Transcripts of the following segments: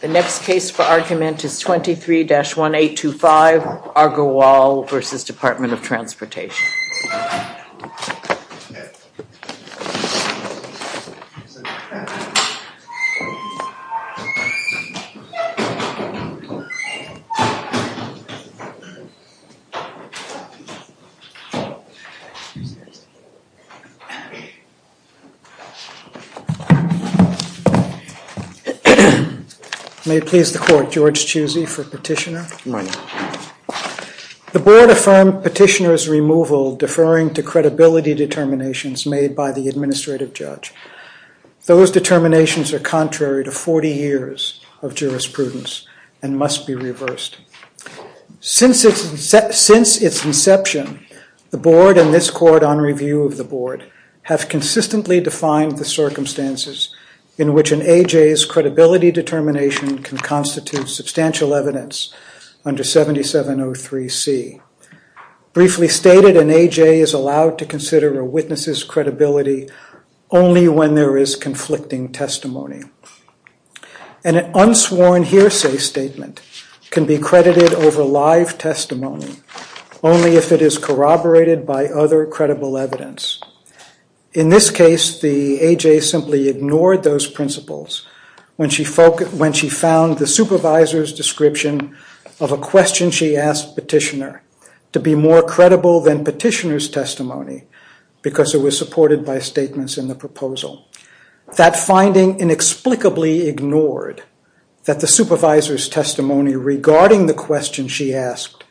The next case for argument is 23-1825 Agarwal v. Department of Transportation. May it please the court, George Chusey for petitioner. The board affirmed petitioner's removal deferring to credibility determinations made by the administrative judge. Those determinations are contrary to 40 years of jurisprudence and must be reversed. Since its inception, the board and this court on review of the board have consistently defined the circumstances in which an AJ's credibility determination can constitute substantial evidence under 7703C. Briefly stated, an AJ is allowed to consider a witness's credibility only when there is conflicting testimony. An unsworn hearsay statement can be credited over live testimony only if it is corroborated by other credible evidence. In this case, the AJ simply ignored those principles when she found the supervisor's description of a question she asked petitioner to be more credible than petitioner's testimony because it was supported by statements in the proposal. That finding inexplicably ignored that the supervisor's testimony regarding the question she asked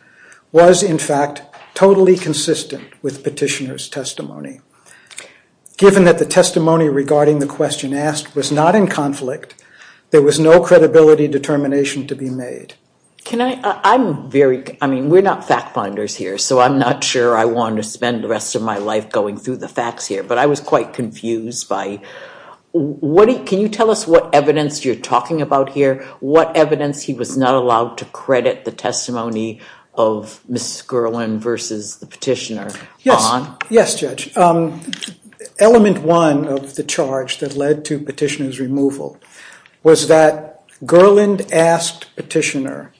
was in fact totally consistent with petitioner's testimony. Given that the testimony regarding the question asked was not in conflict, there was no credibility determination to be made. Can I, I'm very, I mean we're not fact finders here, so I'm not sure I want to spend the rest of my life going through the facts here, but I was quite confused by what, can you tell us what evidence you're talking about here? What evidence he was not allowed to credit the testimony of Mrs. Gerland versus the petitioner on? Yes, yes judge. Element one of the charge that led to petitioner's removal was that Gerland asked petitioner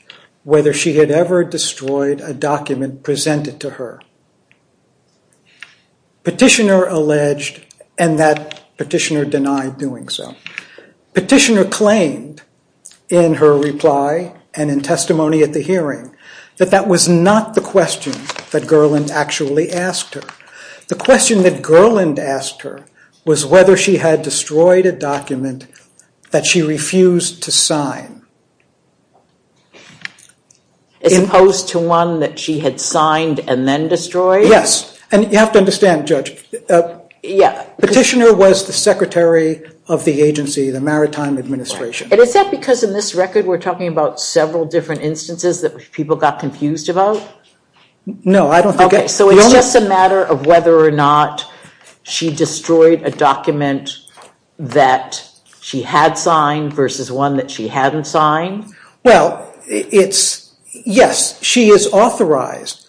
whether she had ever destroyed a document presented to her. Petitioner alleged and that petitioner denied doing so. Petitioner claimed in her reply and in testimony at the hearing that that was not the question that Gerland actually asked her. The question that Gerland asked her was whether she had destroyed a document that she refused to sign. As opposed to one that she had signed and then destroyed? Yes, and you have to understand judge. Petitioner was the secretary of the agency, the Maritime Administration. And is that because in this record we're talking about several different instances that people got confused about? No, I don't think. Okay, so it's just a matter of whether or not she destroyed a document that she had signed versus one that she hadn't signed? Well, yes, she is authorized.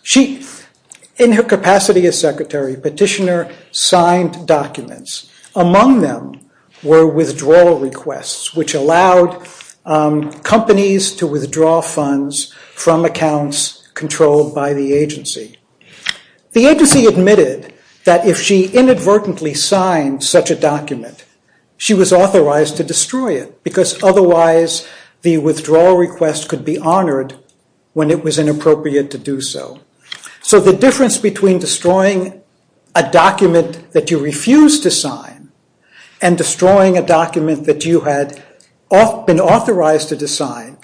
In her capacity as secretary, petitioner signed documents. Among them were withdrawal requests which allowed companies to withdraw funds from accounts controlled by the agency. The agency admitted that if she inadvertently signed such a document, she was authorized to destroy it. Because otherwise the withdrawal request could be honored when it was inappropriate to do so. So the difference between destroying a document that you refused to sign and destroying a document that you had been authorized to destroy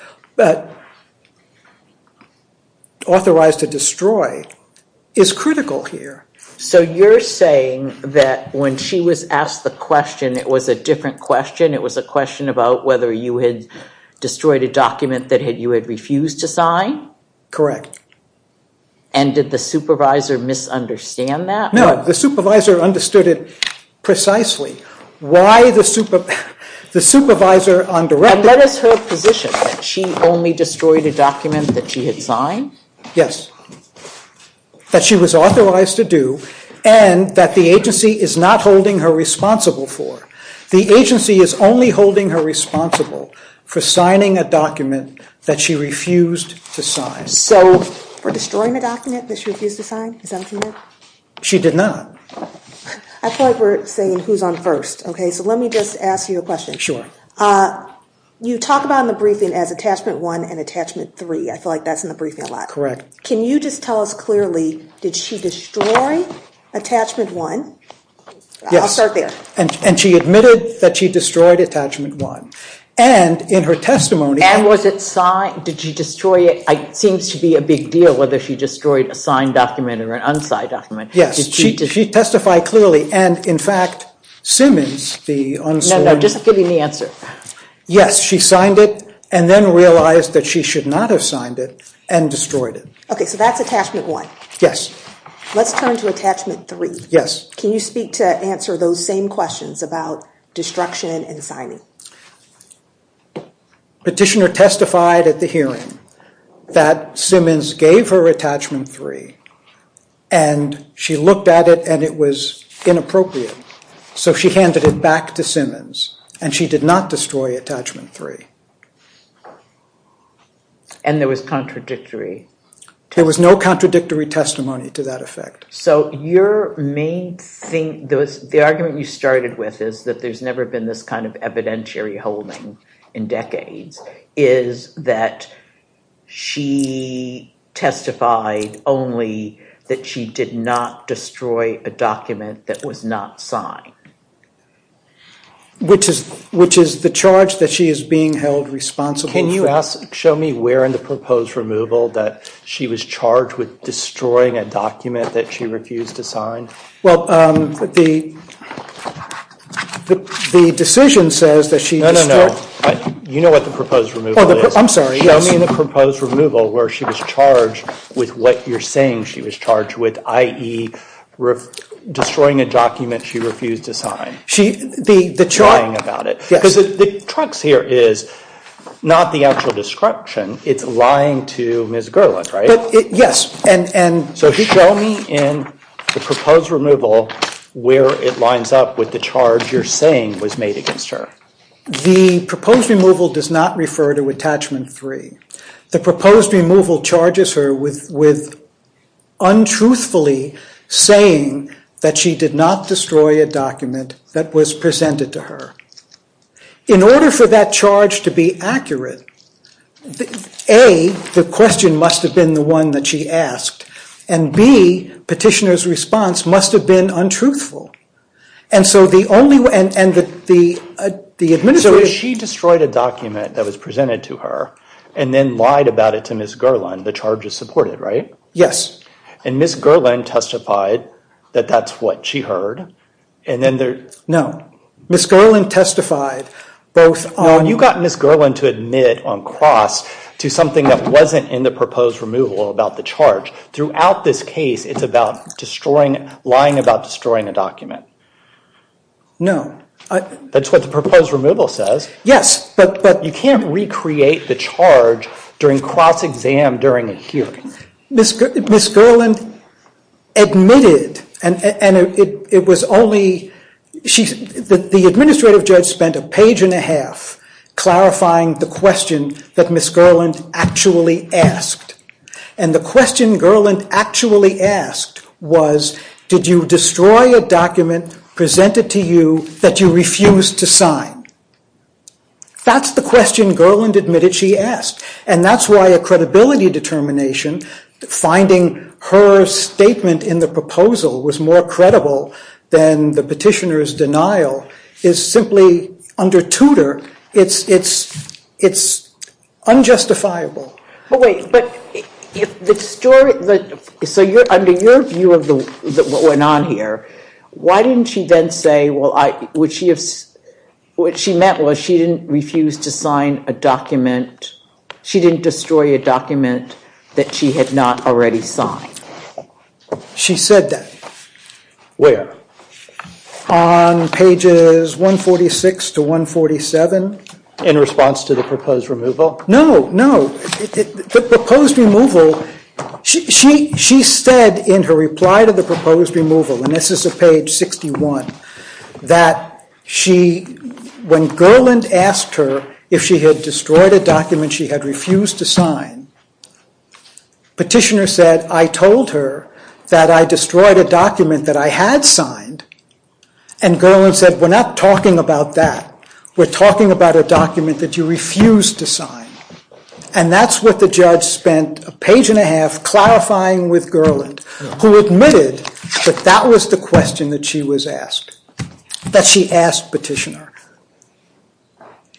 is critical here. So you're saying that when she was asked the question, it was a different question. It was a question about whether you had destroyed a document that you had refused to sign? Correct. And did the supervisor misunderstand that? No, the supervisor understood it precisely. Why the supervisor undirected... And what is her position? That she only destroyed a document that she had signed? Yes. That she was authorized to do and that the agency is not holding her responsible for. The agency is only holding her responsible for signing a document that she refused to sign. So for destroying a document that she refused to sign, is that what you meant? She did not. I feel like we're saying who's on first. Okay, so let me just ask you a question. Sure. You talk about in the briefing as Attachment 1 and Attachment 3. I feel like that's in the briefing a lot. Correct. Can you just tell us clearly, did she destroy Attachment 1? Yes. I'll start there. And she admitted that she destroyed Attachment 1. And in her testimony... And was it signed? Did she destroy it? It seems to be a big deal whether she destroyed a signed document or an unsigned document. Yes, she testified clearly. And in fact, Simmons, the unsigned... Just give me the answer. Yes, she signed it and then realized that she should not have signed it and destroyed it. Okay, so that's Attachment 1. Yes. Let's turn to Attachment 3. Yes. Can you speak to answer those same questions about destruction and signing? Petitioner testified at the hearing that Simmons gave her Attachment 3 and she looked at it and it was inappropriate. So she handed it back to Simmons and she did not destroy Attachment 3. And there was contradictory... There was no contradictory testimony to that effect. So your main thing... The argument you started with is that there's never been this kind of evidentiary holding in decades, is that she testified only that she did not destroy a document that was not signed. Which is the charge that she is being held responsible for... Can you show me where in the proposed removal that she was charged with destroying a document that she refused to sign? Well, the decision says that she... No, no, no. You know what the proposed removal is. I'm sorry, yes. Show me in the proposed removal where she was charged with what you're saying she was charged with, i.e. destroying a document she refused to sign. The charge... Lying about it. Because the trux here is not the actual description. It's lying to Ms. Gerland, right? Yes. So show me in the proposed removal where it lines up with the charge you're saying was made against her. The proposed removal does not refer to Attachment 3. The proposed removal charges her with untruthfully saying that she did not destroy a document that was presented to her. In order for that charge to be accurate, A, the question must have been the one that she asked, and B, Petitioner's response must have been untruthful. And so the only... So if she destroyed a document that was presented to her and then lied about it to Ms. Gerland, the charge is supported, right? Yes. And Ms. Gerland testified that that's what she heard, and then... No. Ms. Gerland testified both on... No, you got Ms. Gerland to admit on cross to something that wasn't in the proposed removal about the charge. Throughout this case, it's about lying about destroying a document. No. That's what the proposed removal says. Yes, but... You can't recreate the charge during cross-exam during a hearing. Ms. Gerland admitted, and it was only... The administrative judge spent a page and a half clarifying the question that Ms. Gerland actually asked. And the question Gerland actually asked was, did you destroy a document presented to you that you refused to sign? That's the question Gerland admitted she asked. And that's why a credibility determination, finding her statement in the proposal was more credible than the petitioner's denial, is simply, under Tudor, it's unjustifiable. But wait, but if the story... So under your view of what went on here, why didn't she then say, well, what she meant was she didn't refuse to sign a document, she didn't destroy a document that she had not already signed? She said that. On pages 146 to 147 in response to the proposed removal. No, no. The proposed removal, she said in her reply to the proposed removal, and this is at page 61, that when Gerland asked her if she had destroyed a document she had refused to sign, petitioner said, I told her that I destroyed a document that I had signed. And Gerland said, we're not talking about that. We're talking about a document that you refused to sign. And that's what the judge spent a page and a half clarifying with Gerland, who admitted that that was the question that she was asked, that she asked petitioner.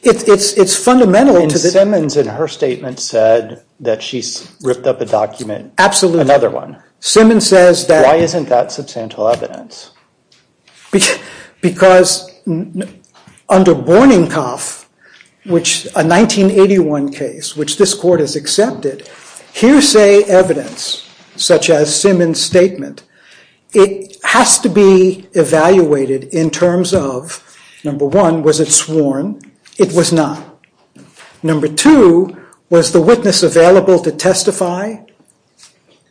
It's fundamental to the... And Simmons in her statement said that she's ripped up a document. Absolutely. Another one. Simmons says that... Why isn't that substantial evidence? Because under Bornenkopf, which a 1981 case, which this court has accepted, hearsay evidence such as Simmons' statement, it has to be evaluated in terms of, number one, was it sworn? It was not. Number two, was the witness available to testify?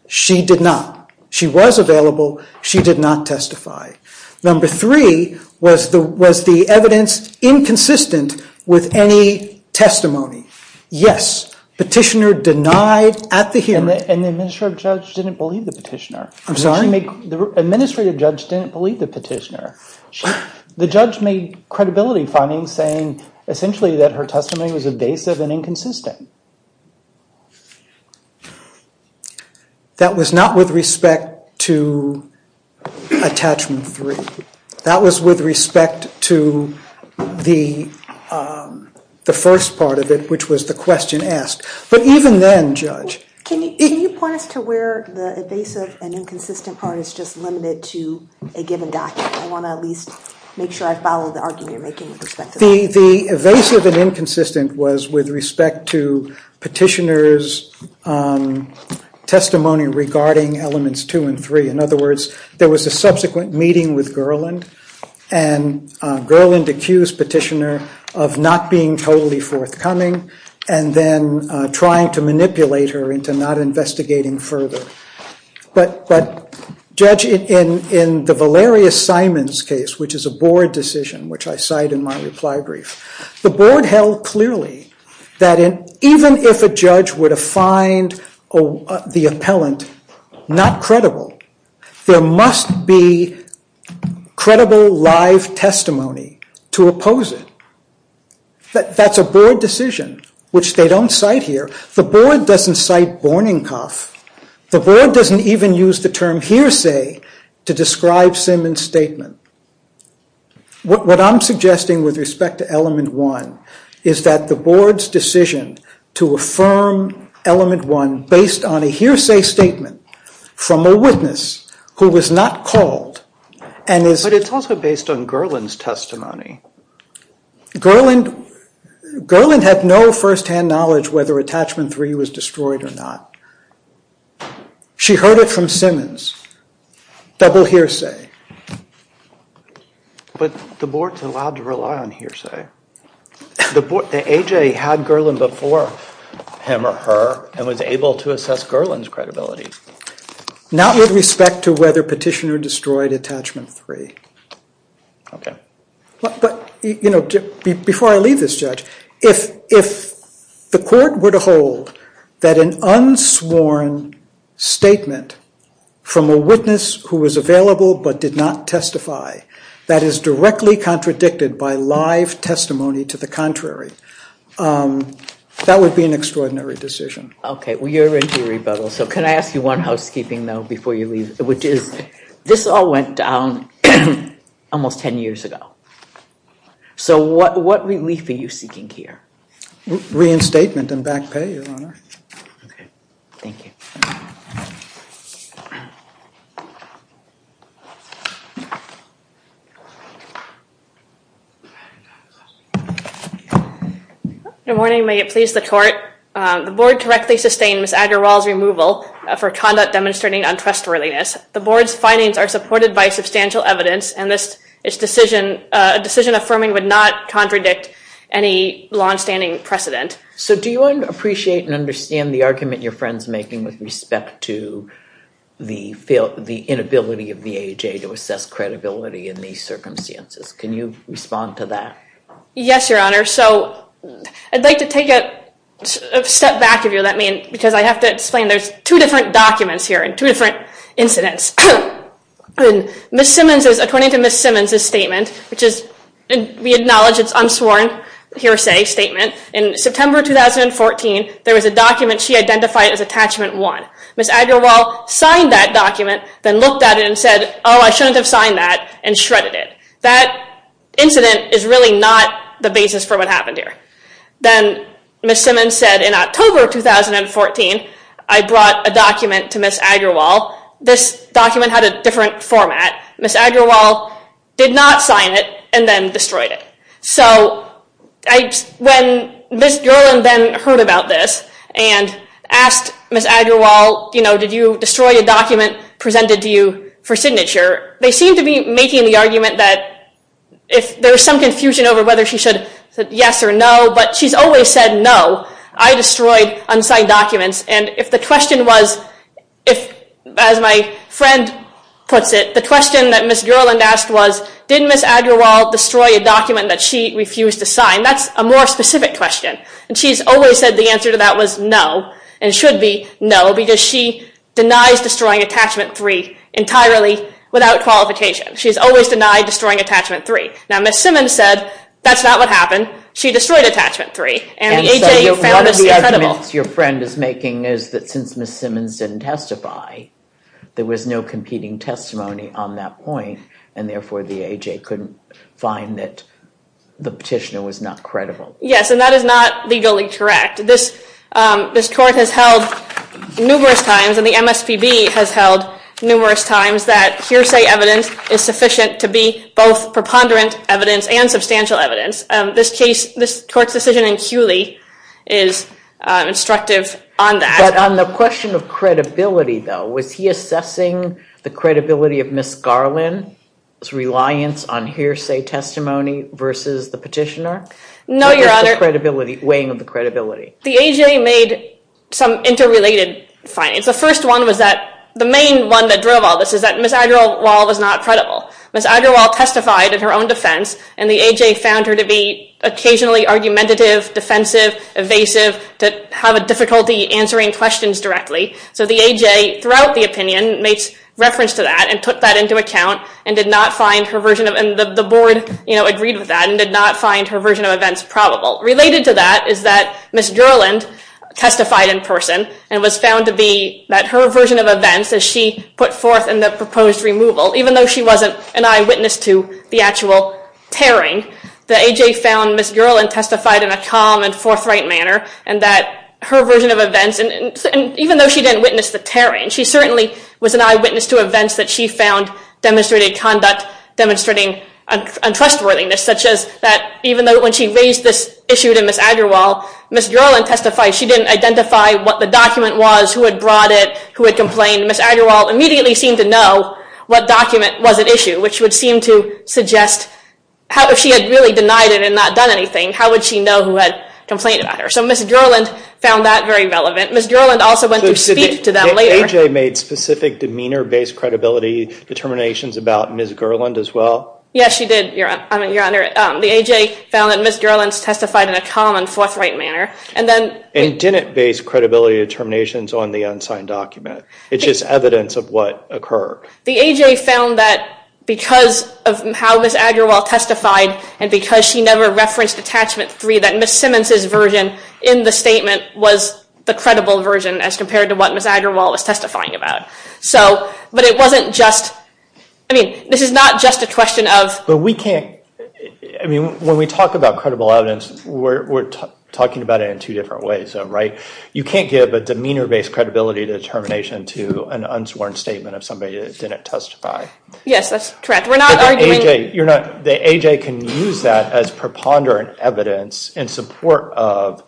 She did not. She was available. She did not testify. Number three, was the evidence inconsistent with any testimony? Yes. Petitioner denied at the hearing. And the administrative judge didn't believe the petitioner. I'm sorry? The administrative judge didn't believe the petitioner. The judge made credibility findings, saying essentially that her testimony was evasive and inconsistent. That was not with respect to attachment three. That was with respect to the first part of it, which was the question asked. But even then, Judge... Can you point us to where the evasive and inconsistent part is just limited to a given document? I want to at least make sure I follow the argument you're making with respect to that. The evasive and inconsistent was with respect to the question with respect to petitioner's testimony regarding elements two and three. In other words, there was a subsequent meeting with Gerland, and Gerland accused petitioner of not being totally forthcoming and then trying to manipulate her into not investigating further. But, Judge, in the Valerius Simons case, which is a board decision, which I cite in my reply brief, the board held clearly that even if a judge were to find the appellant not credible, there must be credible live testimony to oppose it. That's a board decision, which they don't cite here. The board doesn't cite borning cough. The board doesn't even use the term hearsay to describe Simons' statement. What I'm suggesting with respect to element one is that the board's decision to affirm element one based on a hearsay statement from a witness who was not called and is... But it's also based on Gerland's testimony. Gerland had no first-hand knowledge whether attachment three was destroyed or not. She heard it from Simons. Double hearsay. But the board's allowed to rely on hearsay. The AJ had Gerland before him or her and was able to assess Gerland's credibility. Not with respect to whether petitioner destroyed attachment three. Okay. But, you know, before I leave this, Judge, if the court were to hold that an unsworn statement from a witness who was available but did not testify that is directly contradicted by live testimony to the contrary, that would be an extraordinary decision. Okay. Well, you're into rebuttals. So can I ask you one housekeeping, though, before you leave, which is this all went down almost 10 years ago. So what relief are you seeking here? Reinstatement and back pay, Your Honor. Okay. Thank you. Good morning. May it please the court. The board correctly sustained Ms. Agarwal's removal for conduct demonstrating untrustworthiness. The board's findings are supported by substantial evidence and this decision affirming would not contradict any longstanding precedent. So do you appreciate and understand the argument your friend's making with respect to the inability of the AHA to assess credibility in these circumstances? Can you respond to that? Yes, Your Honor. So I'd like to take a step back if you'll let me because I have to explain there's two different documents here and two different incidents. Ms. Simmons, according to Ms. Simmons' statement, which we acknowledge is an unsworn hearsay statement, in September 2014, there was a document she identified as Attachment 1. Ms. Agarwal signed that document, then looked at it and said, oh, I shouldn't have signed that, and shredded it. That incident is really not the basis for what happened here. Then Ms. Simmons said in October 2014, I brought a document to Ms. Agarwal. This document had a different format. Ms. Agarwal did not sign it and then destroyed it. So when Ms. Gerland then heard about this and asked Ms. Agarwal, did you destroy a document presented to you for signature, they seemed to be making the argument that there was some confusion over whether she should say yes or no, but she's always said no. I destroyed unsigned documents. If the question was, as my friend puts it, the question that Ms. Gerland asked was, did Ms. Agarwal destroy a document that she refused to sign? That's a more specific question. She's always said the answer to that was no, and should be no, because she denies destroying Attachment 3 entirely without qualification. She's always denied destroying Attachment 3. Now Ms. Simmons said that's not what happened. She destroyed Attachment 3. One of the arguments your friend is making is that since Ms. Simmons didn't testify, there was no competing testimony on that point, and therefore the AJ couldn't find that the petitioner was not credible. Yes, and that is not legally correct. This court has held numerous times, and the MSPB has held numerous times, that hearsay evidence is sufficient to be both preponderant evidence and substantial evidence. This court's decision in Culey is instructive on that. But on the question of credibility, though, was he assessing the credibility of Ms. Garland's reliance on hearsay testimony versus the petitioner? No, Your Honor. Or just the weighing of the credibility? The AJ made some interrelated findings. The first one was that the main one that drove all this is that Ms. Agarwal was not credible. Ms. Agarwal testified in her own defense, and the AJ found her to be occasionally argumentative, defensive, evasive, to have a difficulty answering questions directly. So the AJ, throughout the opinion, made reference to that and took that into account and did not find her version of events, and the board agreed with that, and did not find her version of events probable. Related to that is that Ms. Garland testified in person and was found to be that her version of events, as she put forth in the proposed removal, even though she wasn't an eyewitness to the actual tearing, the AJ found Ms. Garland testified in a calm and forthright manner, and that her version of events, and even though she didn't witness the tearing, she certainly was an eyewitness to events that she found demonstrated conduct, demonstrating untrustworthiness, such as that even though when she raised this issue to Ms. Agarwal, Ms. Garland testified she didn't identify what the document was, who had brought it, who had complained. Ms. Agarwal immediately seemed to know what document was at issue, which would seem to suggest, if she had really denied it and not done anything, how would she know who had complained about her? So Ms. Garland found that very relevant. Ms. Garland also went to speak to them later. Did the AJ make specific demeanor-based credibility determinations about Ms. Garland as well? Yes, she did, Your Honor. The AJ found that Ms. Garland testified in a calm and forthright manner. And didn't base credibility determinations on the unsigned document. It's just evidence of what occurred. The AJ found that because of how Ms. Agarwal testified and because she never referenced Attachment 3, that Ms. Simmons' version in the statement was the credible version as compared to what Ms. Agarwal was testifying about. So, but it wasn't just, I mean, this is not just a question of But we can't, I mean, when we talk about credible evidence, we're talking about it in two different ways, right? You can't give a demeanor-based credibility determination to an unsworn statement of somebody that didn't testify. Yes, that's correct. We're not arguing The AJ can use that as preponderant evidence in support of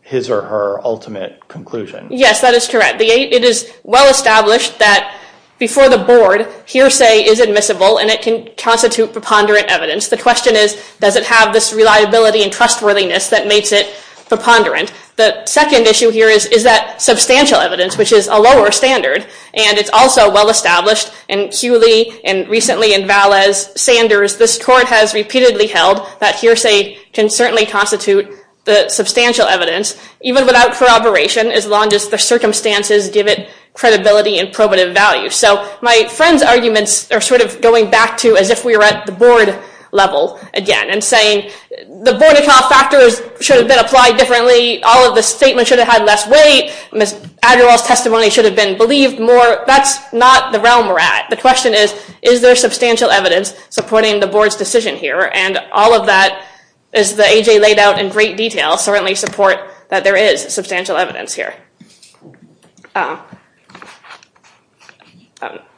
his or her ultimate conclusion. Yes, that is correct. It is well established that before the board, hearsay is admissible and it can constitute preponderant evidence. The question is, does it have this reliability and trustworthiness that makes it preponderant? The second issue here is, is that substantial evidence, which is a lower standard, and it's also well established in Cooley and recently in Valles-Sanders, this court has repeatedly held that hearsay can certainly constitute the substantial evidence, even without corroboration, as long as the circumstances give it credibility and probative value. So my friend's arguments are sort of going back to as if we were at the board level again and saying, the Vortica factors should have been applied differently, all of the statements should have had less weight, Ms. Adderall's testimony should have been believed more. That's not the realm we're at. The question is, is there substantial evidence supporting the board's decision here? And all of that, as the AJ laid out in great detail, certainly support that there is substantial evidence here.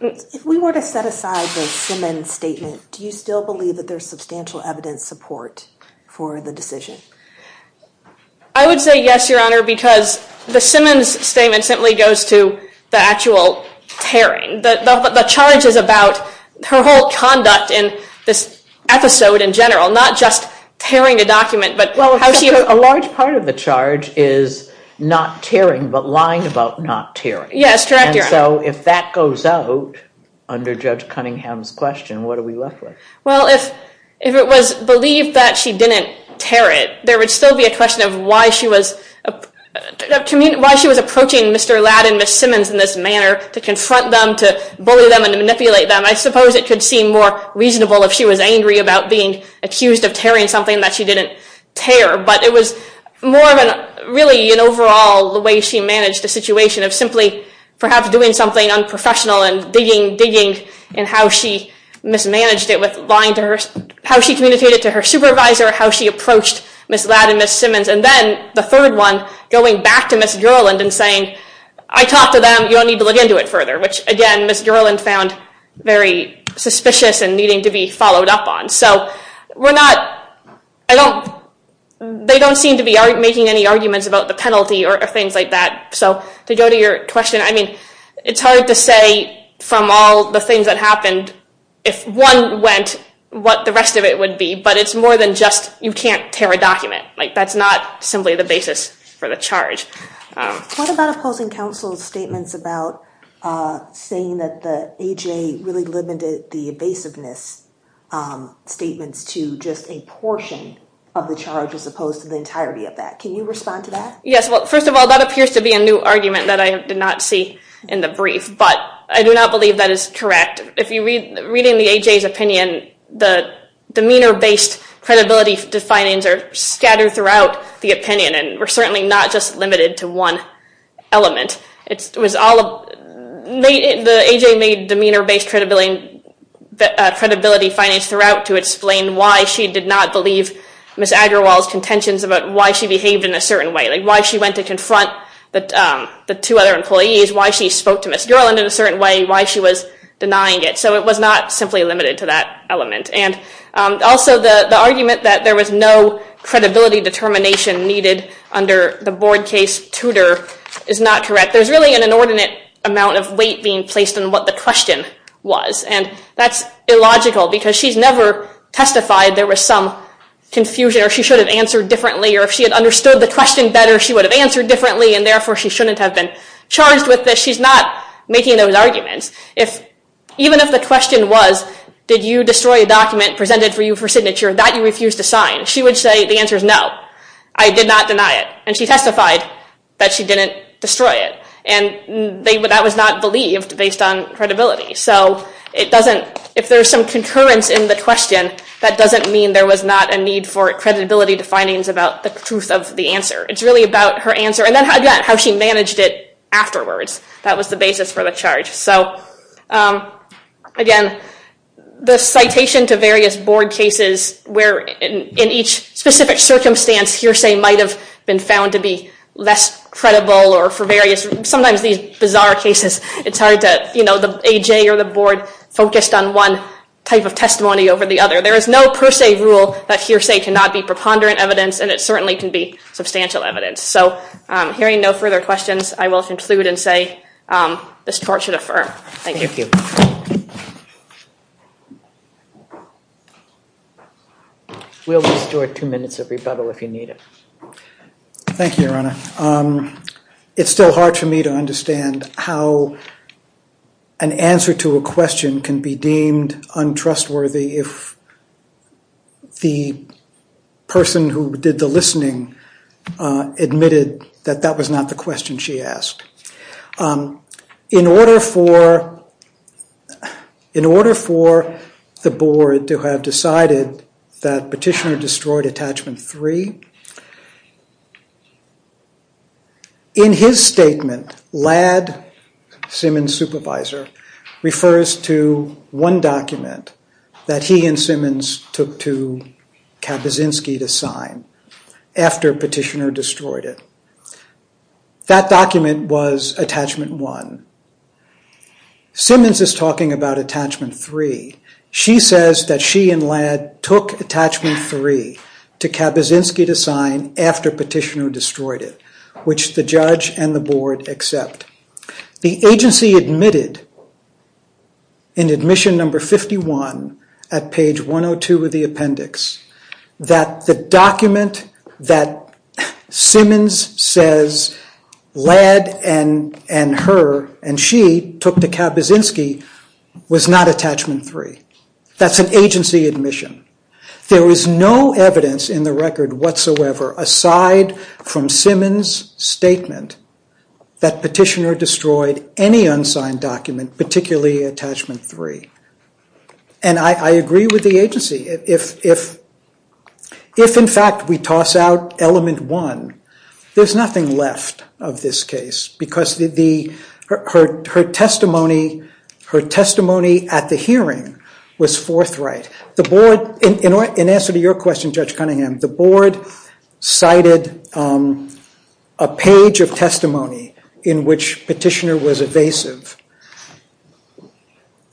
If we were to set aside the Simmons statement, do you still believe that there's substantial evidence support for the decision? I would say yes, Your Honor, because the Simmons statement simply goes to the actual tearing. The charge is about her whole conduct in this episode in general, not just tearing a document, but how she... Well, a large part of the charge is not tearing, but lying about not tearing. Yes, correct, Your Honor. And so if that goes out under Judge Cunningham's question, what are we left with? Well, if it was believed that she didn't tear it, there would still be a question of why she was... why she was approaching Mr. Ladd and Ms. Simmons in this manner to confront them, to bully them, and to manipulate them. I suppose it could seem more reasonable if she was angry about being accused of tearing something that she didn't tear, but it was more of a... really, in overall, the way she managed the situation of simply perhaps doing something unprofessional and digging, digging, and how she mismanaged it with lying to her... how she communicated to her supervisor, how she approached Ms. Ladd and Ms. Simmons, and then the third one, going back to Ms. Gerland and saying, I talked to them, you don't need to look into it further, which, again, Ms. Gerland found very suspicious and needing to be followed up on. So we're not... I don't... They don't seem to be making any arguments about the penalty or things like that. So to go to your question, I mean, it's hard to say from all the things that happened, if one went, what the rest of it would be, but it's more than just, you can't tear a document. Like, that's not simply the basis for the charge. What about opposing counsel's statements about saying that the AJ really limited the evasiveness statements to just a portion of the charge as opposed to the entirety of that? Can you respond to that? Yes, well, first of all, that appears to be a new argument that I did not see in the brief, but I do not believe that is correct. If you read in the AJ's opinion, the demeanor-based credibility findings are scattered throughout the opinion and were certainly not just limited to one element. It was all... The AJ made demeanor-based credibility findings throughout to explain why she did not believe Ms. Agrawal's contentions about why she behaved in a certain way, like why she went to confront the two other employees, why she spoke to Ms. Gerland in a certain way, why she was denying it. So it was not simply limited to that element. And also, the argument that there was no credibility determination needed under the board case tutor is not correct. There's really an inordinate amount of weight being placed on what the question was, and that's illogical because she's never testified there was some confusion or she should have answered differently or if she had understood the question better, she would have answered differently, and therefore she shouldn't have been charged with this. She's not making those arguments. Even if the question was, did you destroy a document presented for you for signature that you refused to sign, she would say the answer is no. I did not deny it. And she testified that she didn't destroy it. And that was not believed based on credibility. So if there's some concurrence in the question, that doesn't mean there was not a need for credibility to findings about the truth of the answer. It's really about her answer and then how she managed it afterwards. That was the basis for the charge. So again, the citation to various board cases where in each specific circumstance hearsay might have been found to be less credible or for various, sometimes these bizarre cases, it's hard to, you know, the AJ or the board focused on one type of testimony over the other. There is no per se rule that hearsay cannot be preponderant evidence and it certainly can be substantial evidence. So hearing no further questions, I will conclude and say this court should affirm. Thank you. We'll restore two minutes of rebuttal if you need it. Thank you, Your Honor. It's still hard for me to understand how an answer to a question can be deemed untrustworthy if the person who did the listening admitted that that was not the question she asked. In order for the board to have decided that Petitioner destroyed Attachment 3, in his statement, Ladd, Simmons' supervisor, refers to one document that he and Simmons took to Kabaczynski to sign after Petitioner destroyed it. That document was Attachment 1. Simmons is talking about Attachment 3. She says that she and Ladd took Attachment 3 to Kabaczynski to sign after Petitioner destroyed it, which the judge and the board accept. The agency admitted in Admission No. 51 at page 102 of the appendix that the document that Simmons says Ladd and her and she took to Kabaczynski was not Attachment 3. That's an agency admission. There is no evidence in the record whatsoever aside from Simmons' statement that Petitioner destroyed any unsigned document, particularly Attachment 3. And I agree with the agency. If, in fact, we toss out Element 1, there's nothing left of this case because her testimony at the hearing was forthright. In answer to your question, Judge Cunningham, the board cited a page of testimony in which Petitioner was evasive.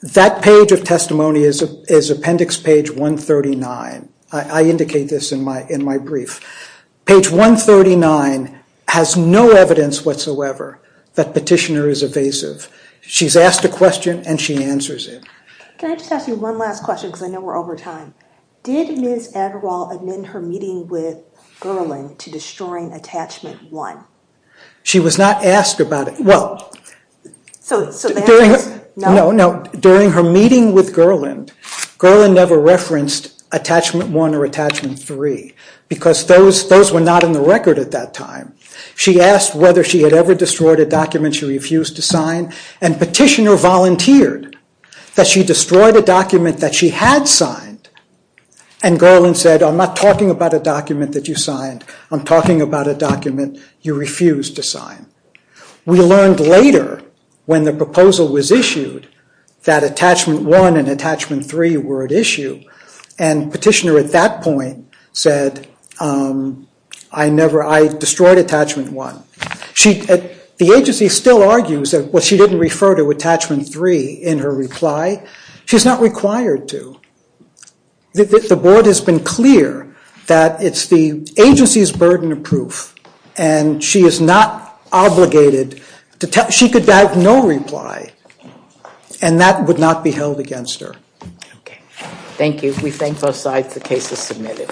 That page of testimony is Appendix Page 139. I indicate this in my brief. Page 139 has no evidence whatsoever that Petitioner is evasive. She's asked a question, and she answers it. Can I just ask you one last question because I know we're over time? Did Ms. Adderall amend her meeting with Gerland to destroying Attachment 1? She was not asked about it. Well, during her meeting with Gerland, Gerland never referenced Attachment 1 or Attachment 3 because those were not in the record at that time. She asked whether she had ever destroyed a document she refused to sign, and Petitioner volunteered that she destroyed a document that she had signed. And Gerland said, I'm not talking about a document that you signed. I'm talking about a document you refused to sign. We learned later when the proposal was issued that Attachment 1 and Attachment 3 were at issue, and Petitioner at that point said, I destroyed Attachment 1. The agency still argues that she didn't refer to Attachment 3 in her reply. She's not required to. The board has been clear that it's the agency's burden of proof, and she is not obligated to tell. She could have no reply, and that would not be held against her. Thank you. We thank both sides. The case is submitted.